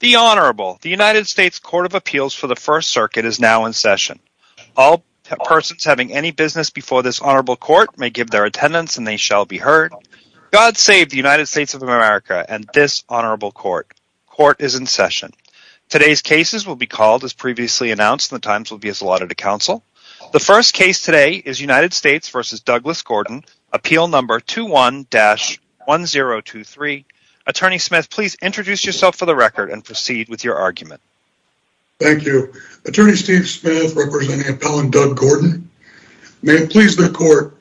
The Honorable. The United States Court of Appeals for the First Circuit is now in session. All persons having any business before this Honorable Court may give their attendance and they shall be heard. God save the United States of America and this Honorable Court. Court is in session. Today's cases will be called as previously announced and the times will be as allotted to counsel. The first case today is United States v. Douglas Gordon, Appeal No. 21-1023. Attorney Smith, please introduce yourself for the record and proceed with your argument. Thank you. Attorney Steve Smith representing Appellant Doug Gordon. May it please the Court,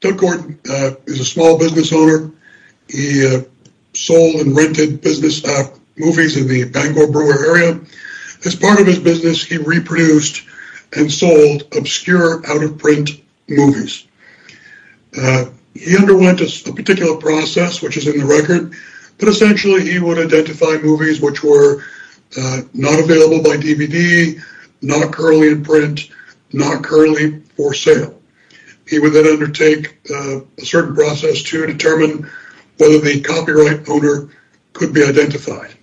Doug Gordon is a small business owner. He sold and rented business movies in the Bangor Brewery area. As part of his business, he reproduced and sold obscure out-of-print movies. He underwent a particular process, which is in the record, but essentially he would identify movies which were not available by DVD, not currently in print, not currently for sale. He would then undertake a certain process to determine whether the copyright owner could be identified.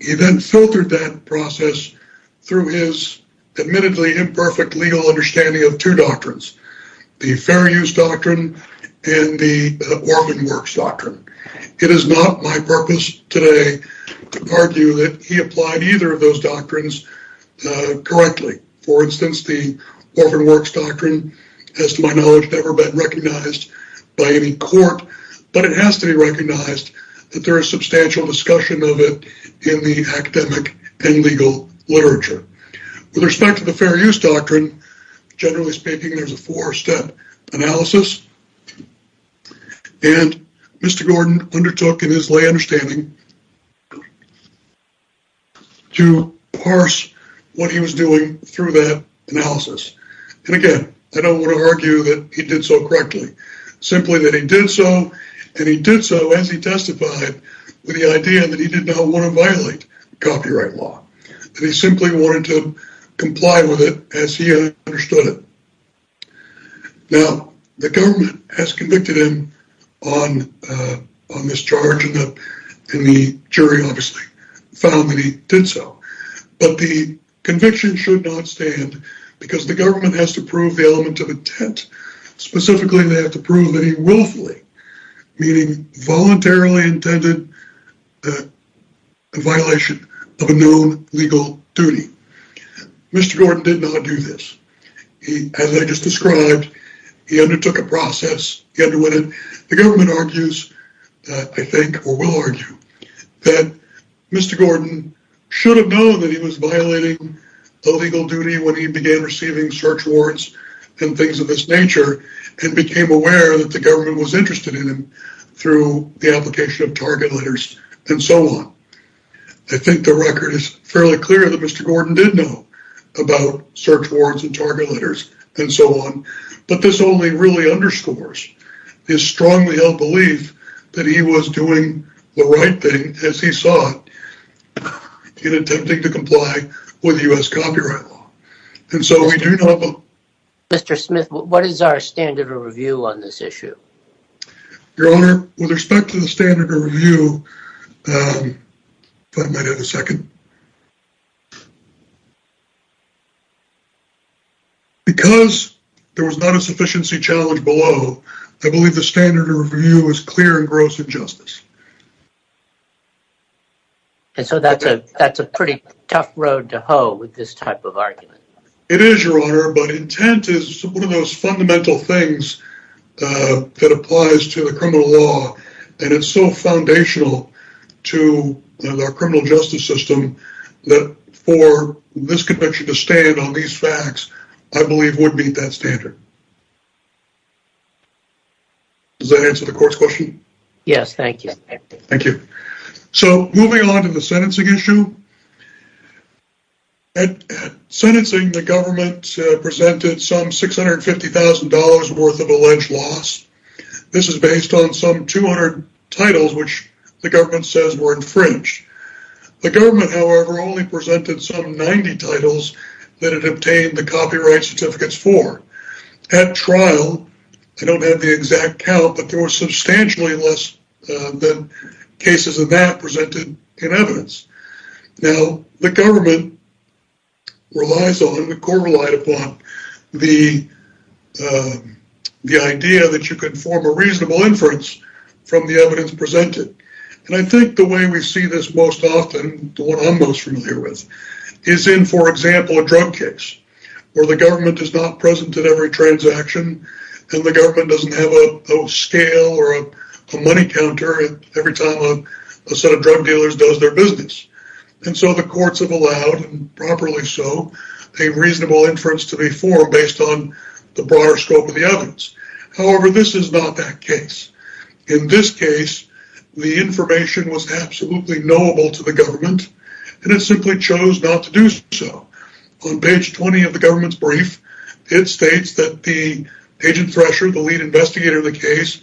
He then filtered that process through his admittedly imperfect legal understanding of two doctrines, the Fair Use Doctrine and the Orphan Works Doctrine. It is not my purpose today to argue that he applied either of those doctrines correctly. For instance, the Orphan Works Doctrine, as to my knowledge, has never been recognized by any court, but it has to be recognized that there is substantial discussion of it in the academic and legal literature. With respect to the Fair Use Doctrine, generally speaking, there is a four-step analysis. Mr. Gordon undertook in his lay understanding to parse what he was doing through that analysis. Again, I don't want to argue that he did so correctly. Simply that he did so, and he did so as he testified with the idea that he did not want to violate copyright law. He simply wanted to comply with it as he understood it. Now, the government has convicted him on this charge, and the jury obviously found that he did so. But the conviction should not stand, because the government has to prove the element of intent, specifically they have to prove that he willfully, meaning voluntarily, intended a violation of a known legal duty. Mr. Gordon did not do this. As I just described, he undertook a process. The government argues, I think, or will argue, that Mr. Gordon should have known that he was violating a legal duty when he began receiving search warrants and things of this nature, and became aware that the government was interested in him through the application of target letters and so on. I think the record is fairly clear that Mr. Gordon did know about search warrants and target letters and so on, but this only really underscores his strongly held belief that he was doing the right thing, as he saw it, in attempting to comply with U.S. copyright law. Mr. Smith, what is our standard of review on this issue? Your Honor, with respect to the standard of review, because there was not a sufficiency challenge below, I believe the standard of review is clear and gross injustice. And so that's a pretty tough road to hoe with this type of argument. It is, Your Honor, but intent is one of those fundamental things that applies to the criminal law, and it's so foundational to the criminal justice system that for this convention to stand on these facts, I believe would meet that standard. Does that answer the court's question? Yes, thank you. Thank you. So moving on to the sentencing issue, at sentencing the government presented some $650,000 worth of alleged loss. This is based on some 200 titles which the government says were infringed. The government, however, only presented some 90 titles that it obtained the copyright certificates for. At trial, I don't have the exact count, but there was substantially less than cases of that presented in evidence. Now, the government relies on, the court relied upon the idea that you could form a reasonable inference from the evidence presented. And I think the way we see this most often, the one I'm most familiar with, is in, for example, a drug case, where the government is not present at every transaction, and the government doesn't have a scale or a money counter every time a set of drug dealers does their business. And so the courts have allowed, and properly so, a reasonable inference to be formed based on the broader scope of the evidence. However, this is not that case. And it simply chose not to do so. On page 20 of the government's brief, it states that the agent thresher, the lead investigator of the case,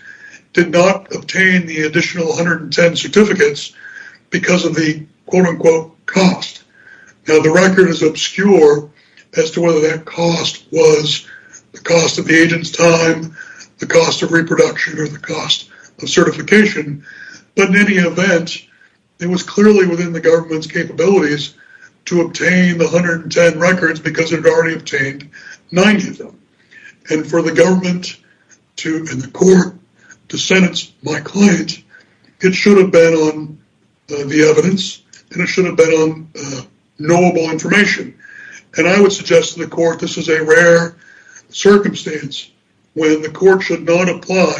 did not obtain the additional 110 certificates because of the quote-unquote cost. Now, the record is obscure as to whether that cost was the cost of the agent's time, the cost of reproduction, or the cost of certification. But in any event, it was clearly within the government's capabilities to obtain the 110 records because it had already obtained 90 of them. And for the government and the court to sentence my client, it should have been on the evidence, and it should have been on knowable information. And I would suggest to the court this is a rare circumstance when the court should not apply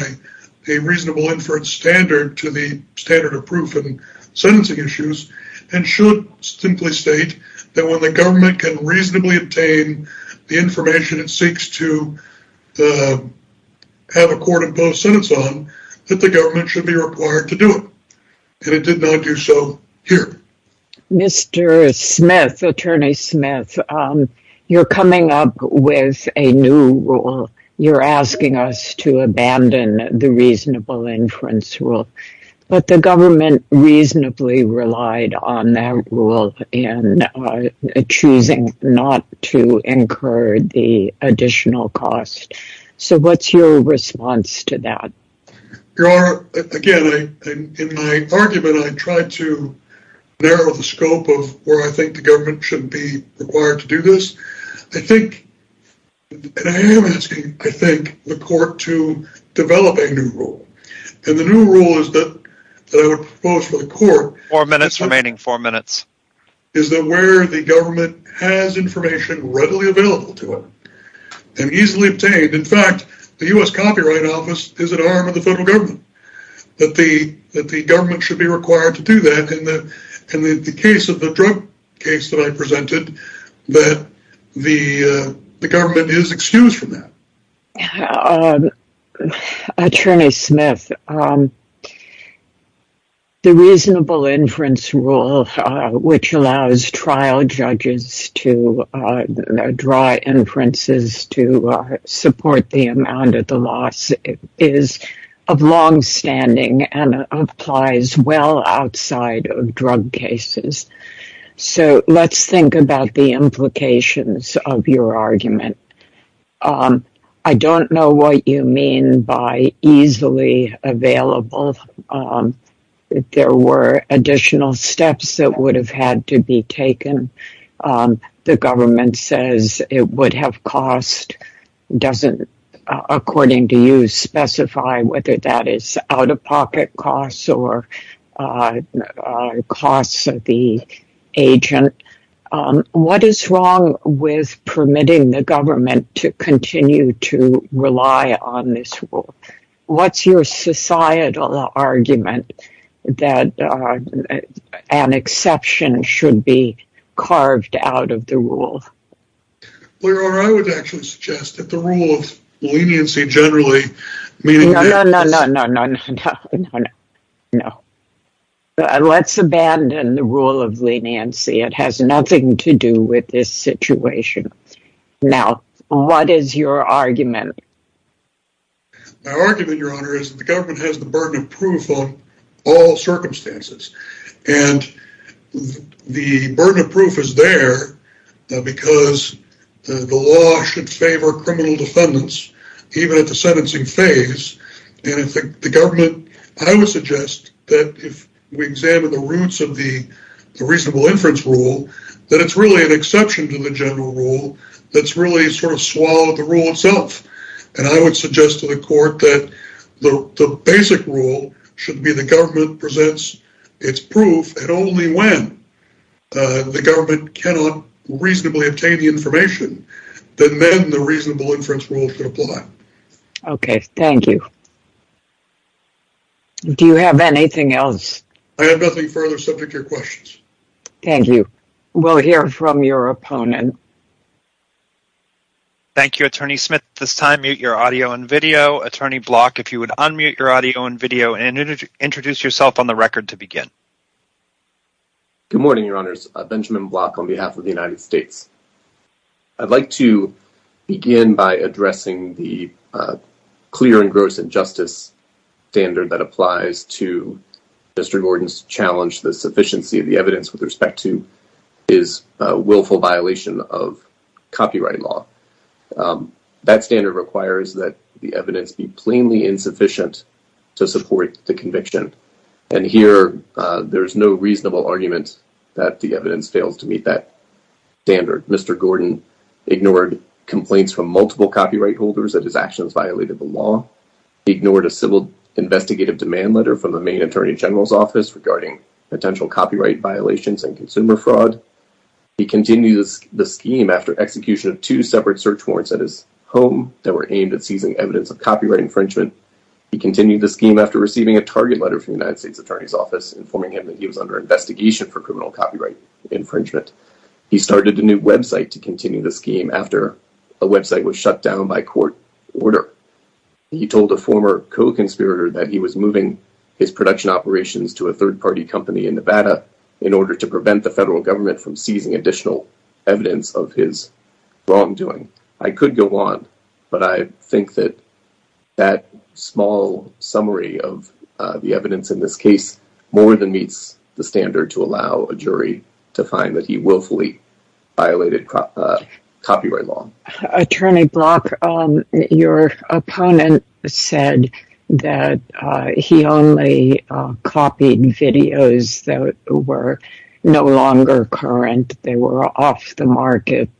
a reasonable inference standard to the standard of proof in sentencing issues, and should simply state that when the government can reasonably obtain the information it seeks to have a court-imposed sentence on, that the government should be required to do it. And it did not do so here. Mr. Smith, Attorney Smith, you're coming up with a new rule. You're asking us to abandon the reasonable inference rule. But the government reasonably relied on that rule in choosing not to incur the additional cost. So what's your response to that? Again, in my argument I tried to narrow the scope of where I think the government should be required to do this. I think, and I am asking, I think, the court to develop a new rule. And the new rule is that I would propose for the court Four minutes remaining, four minutes. is that where the government has information readily available to it and easily obtained, in fact, the U.S. Copyright Office is at arm with the federal government. That the government should be required to do that, and in the case of the drug case that I presented, that the government is excused from that. Attorney Smith, the reasonable inference rule, which allows trial judges to draw inferences to support the amount of the loss, is of longstanding and applies well outside of drug cases. So let's think about the implications of your argument. I don't know what you mean by easily available. There were additional steps that would have had to be taken. The government says it would have cost, doesn't, according to you, specify whether that is out-of-pocket costs or costs of the agent. What is wrong with permitting the government to continue to rely on this rule? What's your societal argument that an exception should be carved out of the rule? Your Honor, I would actually suggest that the rule of leniency generally... No, no, no, no, no, no, no. Let's abandon the rule of leniency. It has nothing to do with this situation. Now, what is your argument? My argument, Your Honor, is that the government has the burden of proof on all circumstances. And the burden of proof is there because the law should favor criminal defendants, even at the sentencing phase. And I think the government... I would suggest that if we examine the roots of the reasonable inference rule, that it's really an exception to the general rule that's really sort of swallowed the rule itself. And I would suggest to the court that the basic rule should be the government presents its proof, and only when the government cannot reasonably obtain the information, then the reasonable inference rule should apply. Okay, thank you. Do you have anything else? I have nothing further subject to your questions. Thank you. We'll hear from your opponent. Thank you, Attorney Smith. At this time, mute your audio and video. Attorney Block, if you would unmute your audio and video and introduce yourself on the record to begin. Good morning, Your Honors. Benjamin Block on behalf of the United States. I'd like to begin by addressing the clear and gross injustice standard that applies to Mr. Gordon's challenge to the sufficiency of the evidence with respect to his willful violation of copyright law. That standard requires that the evidence be plainly insufficient to support the conviction. And here there is no reasonable argument that the evidence fails to meet that standard. Mr. Gordon ignored complaints from multiple copyright holders that his actions violated the law, ignored a civil investigative demand letter from the Maine Attorney General's Office regarding potential copyright violations and consumer fraud. He continued the scheme after execution of two separate search warrants at his home that were aimed at seizing evidence of copyright infringement. He continued the scheme after receiving a target letter from the United States Attorney's Office informing him that he was under investigation for criminal copyright infringement. He started a new website to continue the scheme after a website was shut down by court order. He told a former co-conspirator that he was moving his production operations to a third-party company in Nevada in order to prevent the federal government from seizing additional evidence of his wrongdoing. I could go on, but I think that that small summary of the evidence in this case more than meets the standard to allow a jury to find that he willfully violated copyright law. Attorney Block, your opponent said that he only copied videos that were no longer current. They were off the market.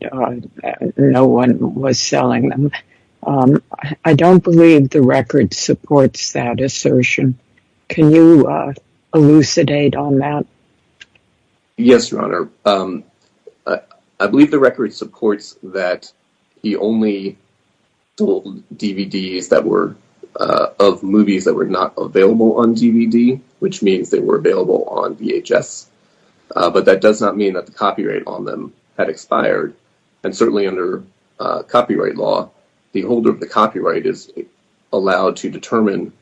No one was selling them. I don't believe the record supports that assertion. Can you elucidate on that? Yes, Your Honor. I believe the record supports that he only sold DVDs of movies that were not available on DVD, which means they were available on VHS. But that does not mean that the copyright on them had expired. Certainly under copyright law, the holder of the copyright is allowed to determine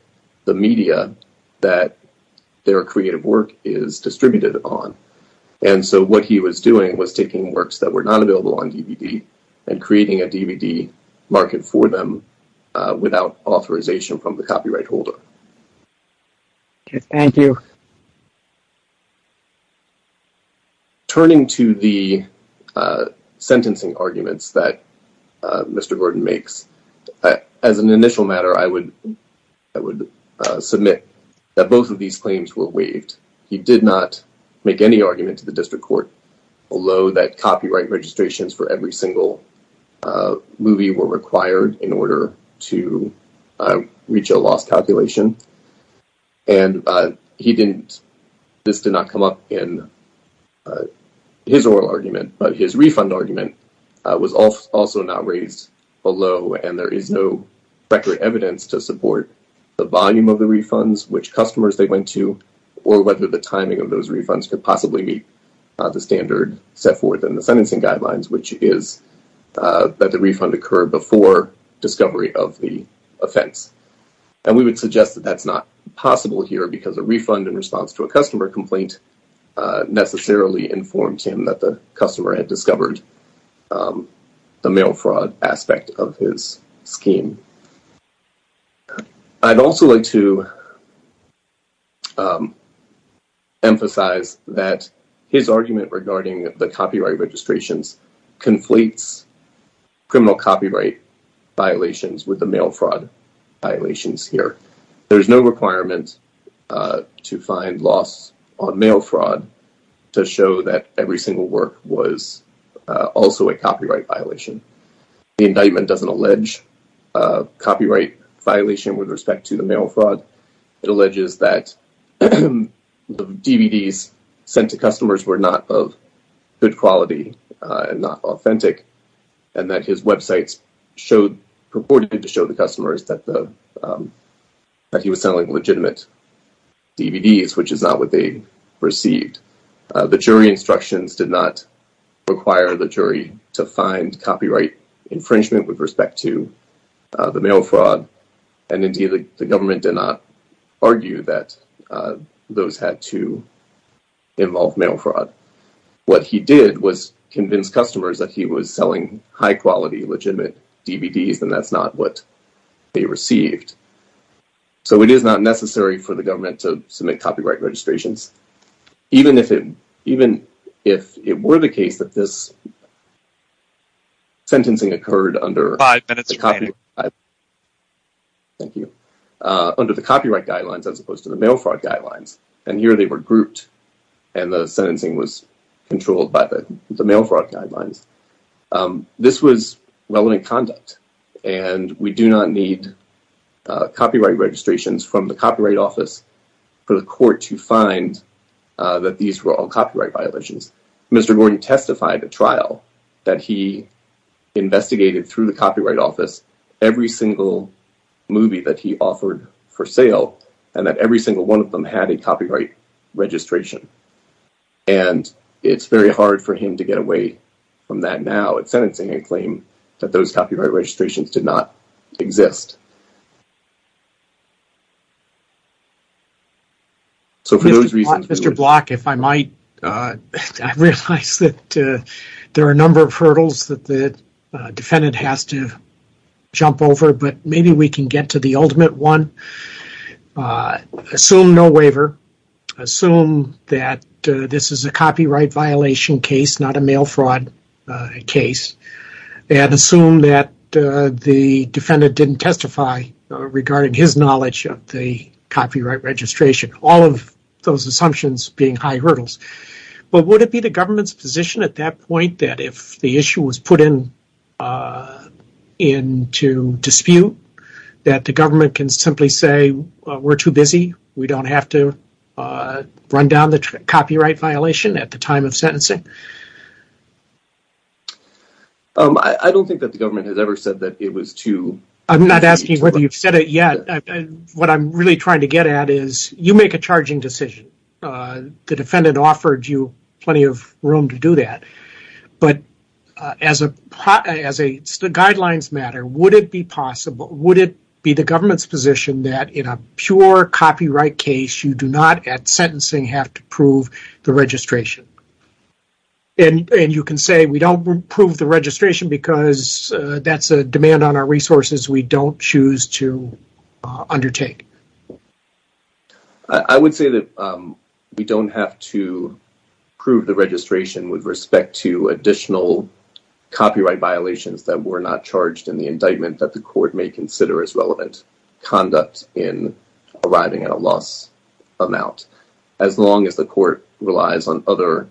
the media that their creative work is distributed on. What he was doing was taking works that were not available on DVD and creating a DVD market for them without authorization from the copyright holder. Thank you. Turning to the sentencing arguments that Mr. Gordon makes, as an initial matter, I would submit that both of these claims were waived. He did not make any argument to the district court, although that copyright registrations for every single movie were required in order to reach a loss calculation. This did not come up in his oral argument, but his refund argument was also not raised below, and there is no record evidence to support the volume of the refunds, which customers they went to, or whether the timing of those refunds could possibly meet the standard set forth in the sentencing guidelines, which is that the refund occur before discovery of the offense. And we would suggest that that's not possible here because a refund in response to a customer complaint necessarily informed him that the customer had discovered the mail fraud aspect of his scheme. I'd also like to emphasize that his argument regarding the copyright registrations conflates criminal copyright violations with the mail fraud violations here. There's no requirement to find loss on mail fraud to show that every single work was also a copyright violation. The indictment doesn't allege copyright violation with respect to the mail fraud. It alleges that the DVDs sent to customers were not of good quality, not authentic, and that his websites purported to show the customers that he was selling legitimate DVDs, which is not what they received. The jury instructions did not require the jury to find copyright infringement with respect to the mail fraud, and indeed the government did not argue that those had to involve mail fraud. What he did was convince customers that he was selling high-quality, legitimate DVDs, and that's not what they received. So it is not necessary for the government to submit copyright registrations. Even if it were the case that this sentencing occurred under the copyright guidelines as opposed to the mail fraud guidelines, and here they were grouped, and the sentencing was controlled by the mail fraud guidelines, this was relevant conduct, and we do not need copyright registrations from the Copyright Office for the court to find that these were all copyright violations. Mr. Gordon testified at trial that he investigated through the Copyright Office every single movie that he offered for sale and that every single one of them had a copyright registration, and it's very hard for him to get away from that now. Mr. Block, if I might, I realize that there are a number of hurdles that the defendant has to jump over, but maybe we can get to the ultimate one. Assume no waiver. Assume that this is a copyright violation case, not a mail fraud case, and assume that the defendant didn't testify regarding his knowledge of the copyright registration, all of those assumptions being high hurdles. But would it be the government's position at that point that if the issue was put into dispute, that the government can simply say, we're too busy, we don't have to run down the copyright violation at the time of sentencing? I don't think that the government has ever said that it was too busy. I'm not asking whether you've said it yet. What I'm really trying to get at is you make a charging decision. The defendant offered you plenty of room to do that, but as the guidelines matter, would it be possible, would it be the government's position that in a pure copyright case, you do not at sentencing have to prove the registration? And you can say we don't prove the registration because that's a demand on our resources we don't choose to undertake. I would say that we don't have to prove the registration with respect to additional copyright violations that were not charged in the indictment that the court may consider as relevant conduct in arriving at a loss amount, as long as the court relies on other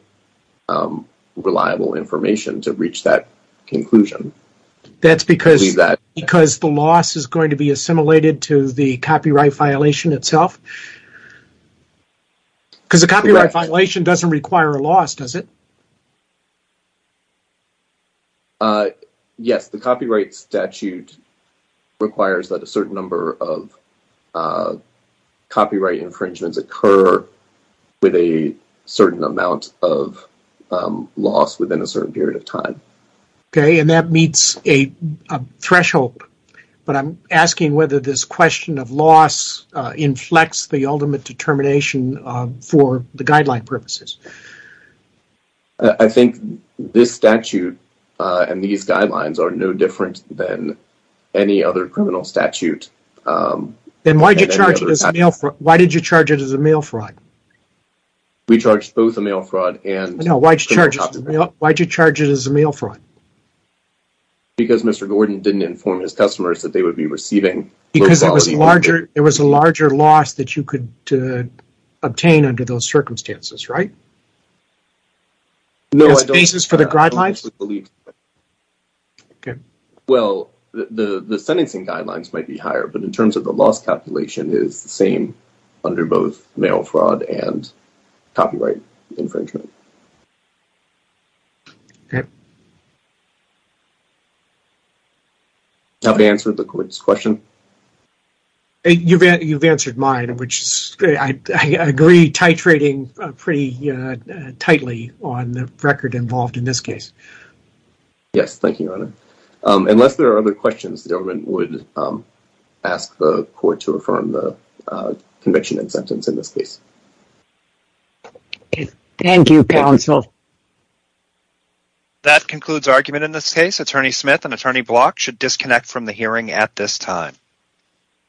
reliable information to reach that conclusion. That's because the loss is going to be assimilated to the copyright violation itself? Because a copyright violation doesn't require a loss, does it? Yes, the copyright statute requires that a certain number of copyright infringements occur with a certain amount of loss within a certain period of time. Okay, and that meets a threshold. But I'm asking whether this question of loss inflects the ultimate determination for the guideline purposes. I think this statute and these guidelines are no different than any other criminal statute. Then why did you charge it as a mail fraud? We charged both a mail fraud and... No, why did you charge it as a mail fraud? Because Mr. Gordon didn't inform his customers that they would be receiving... Because there was a larger loss that you could obtain under those circumstances, right? No, I don't... As basis for the guidelines? Okay. Well, the sentencing guidelines might be higher, but in terms of the loss calculation is the same under both mail fraud and copyright infringement. Okay. Have I answered the court's question? You've answered mine, which I agree titrating pretty tightly on the record involved in this case. Yes, thank you, Your Honor. Unless there are other questions, the government would ask the court to affirm the conviction and sentence in this case. Thank you, counsel. That concludes argument in this case. Attorney Smith and Attorney Block should disconnect from the hearing at this time.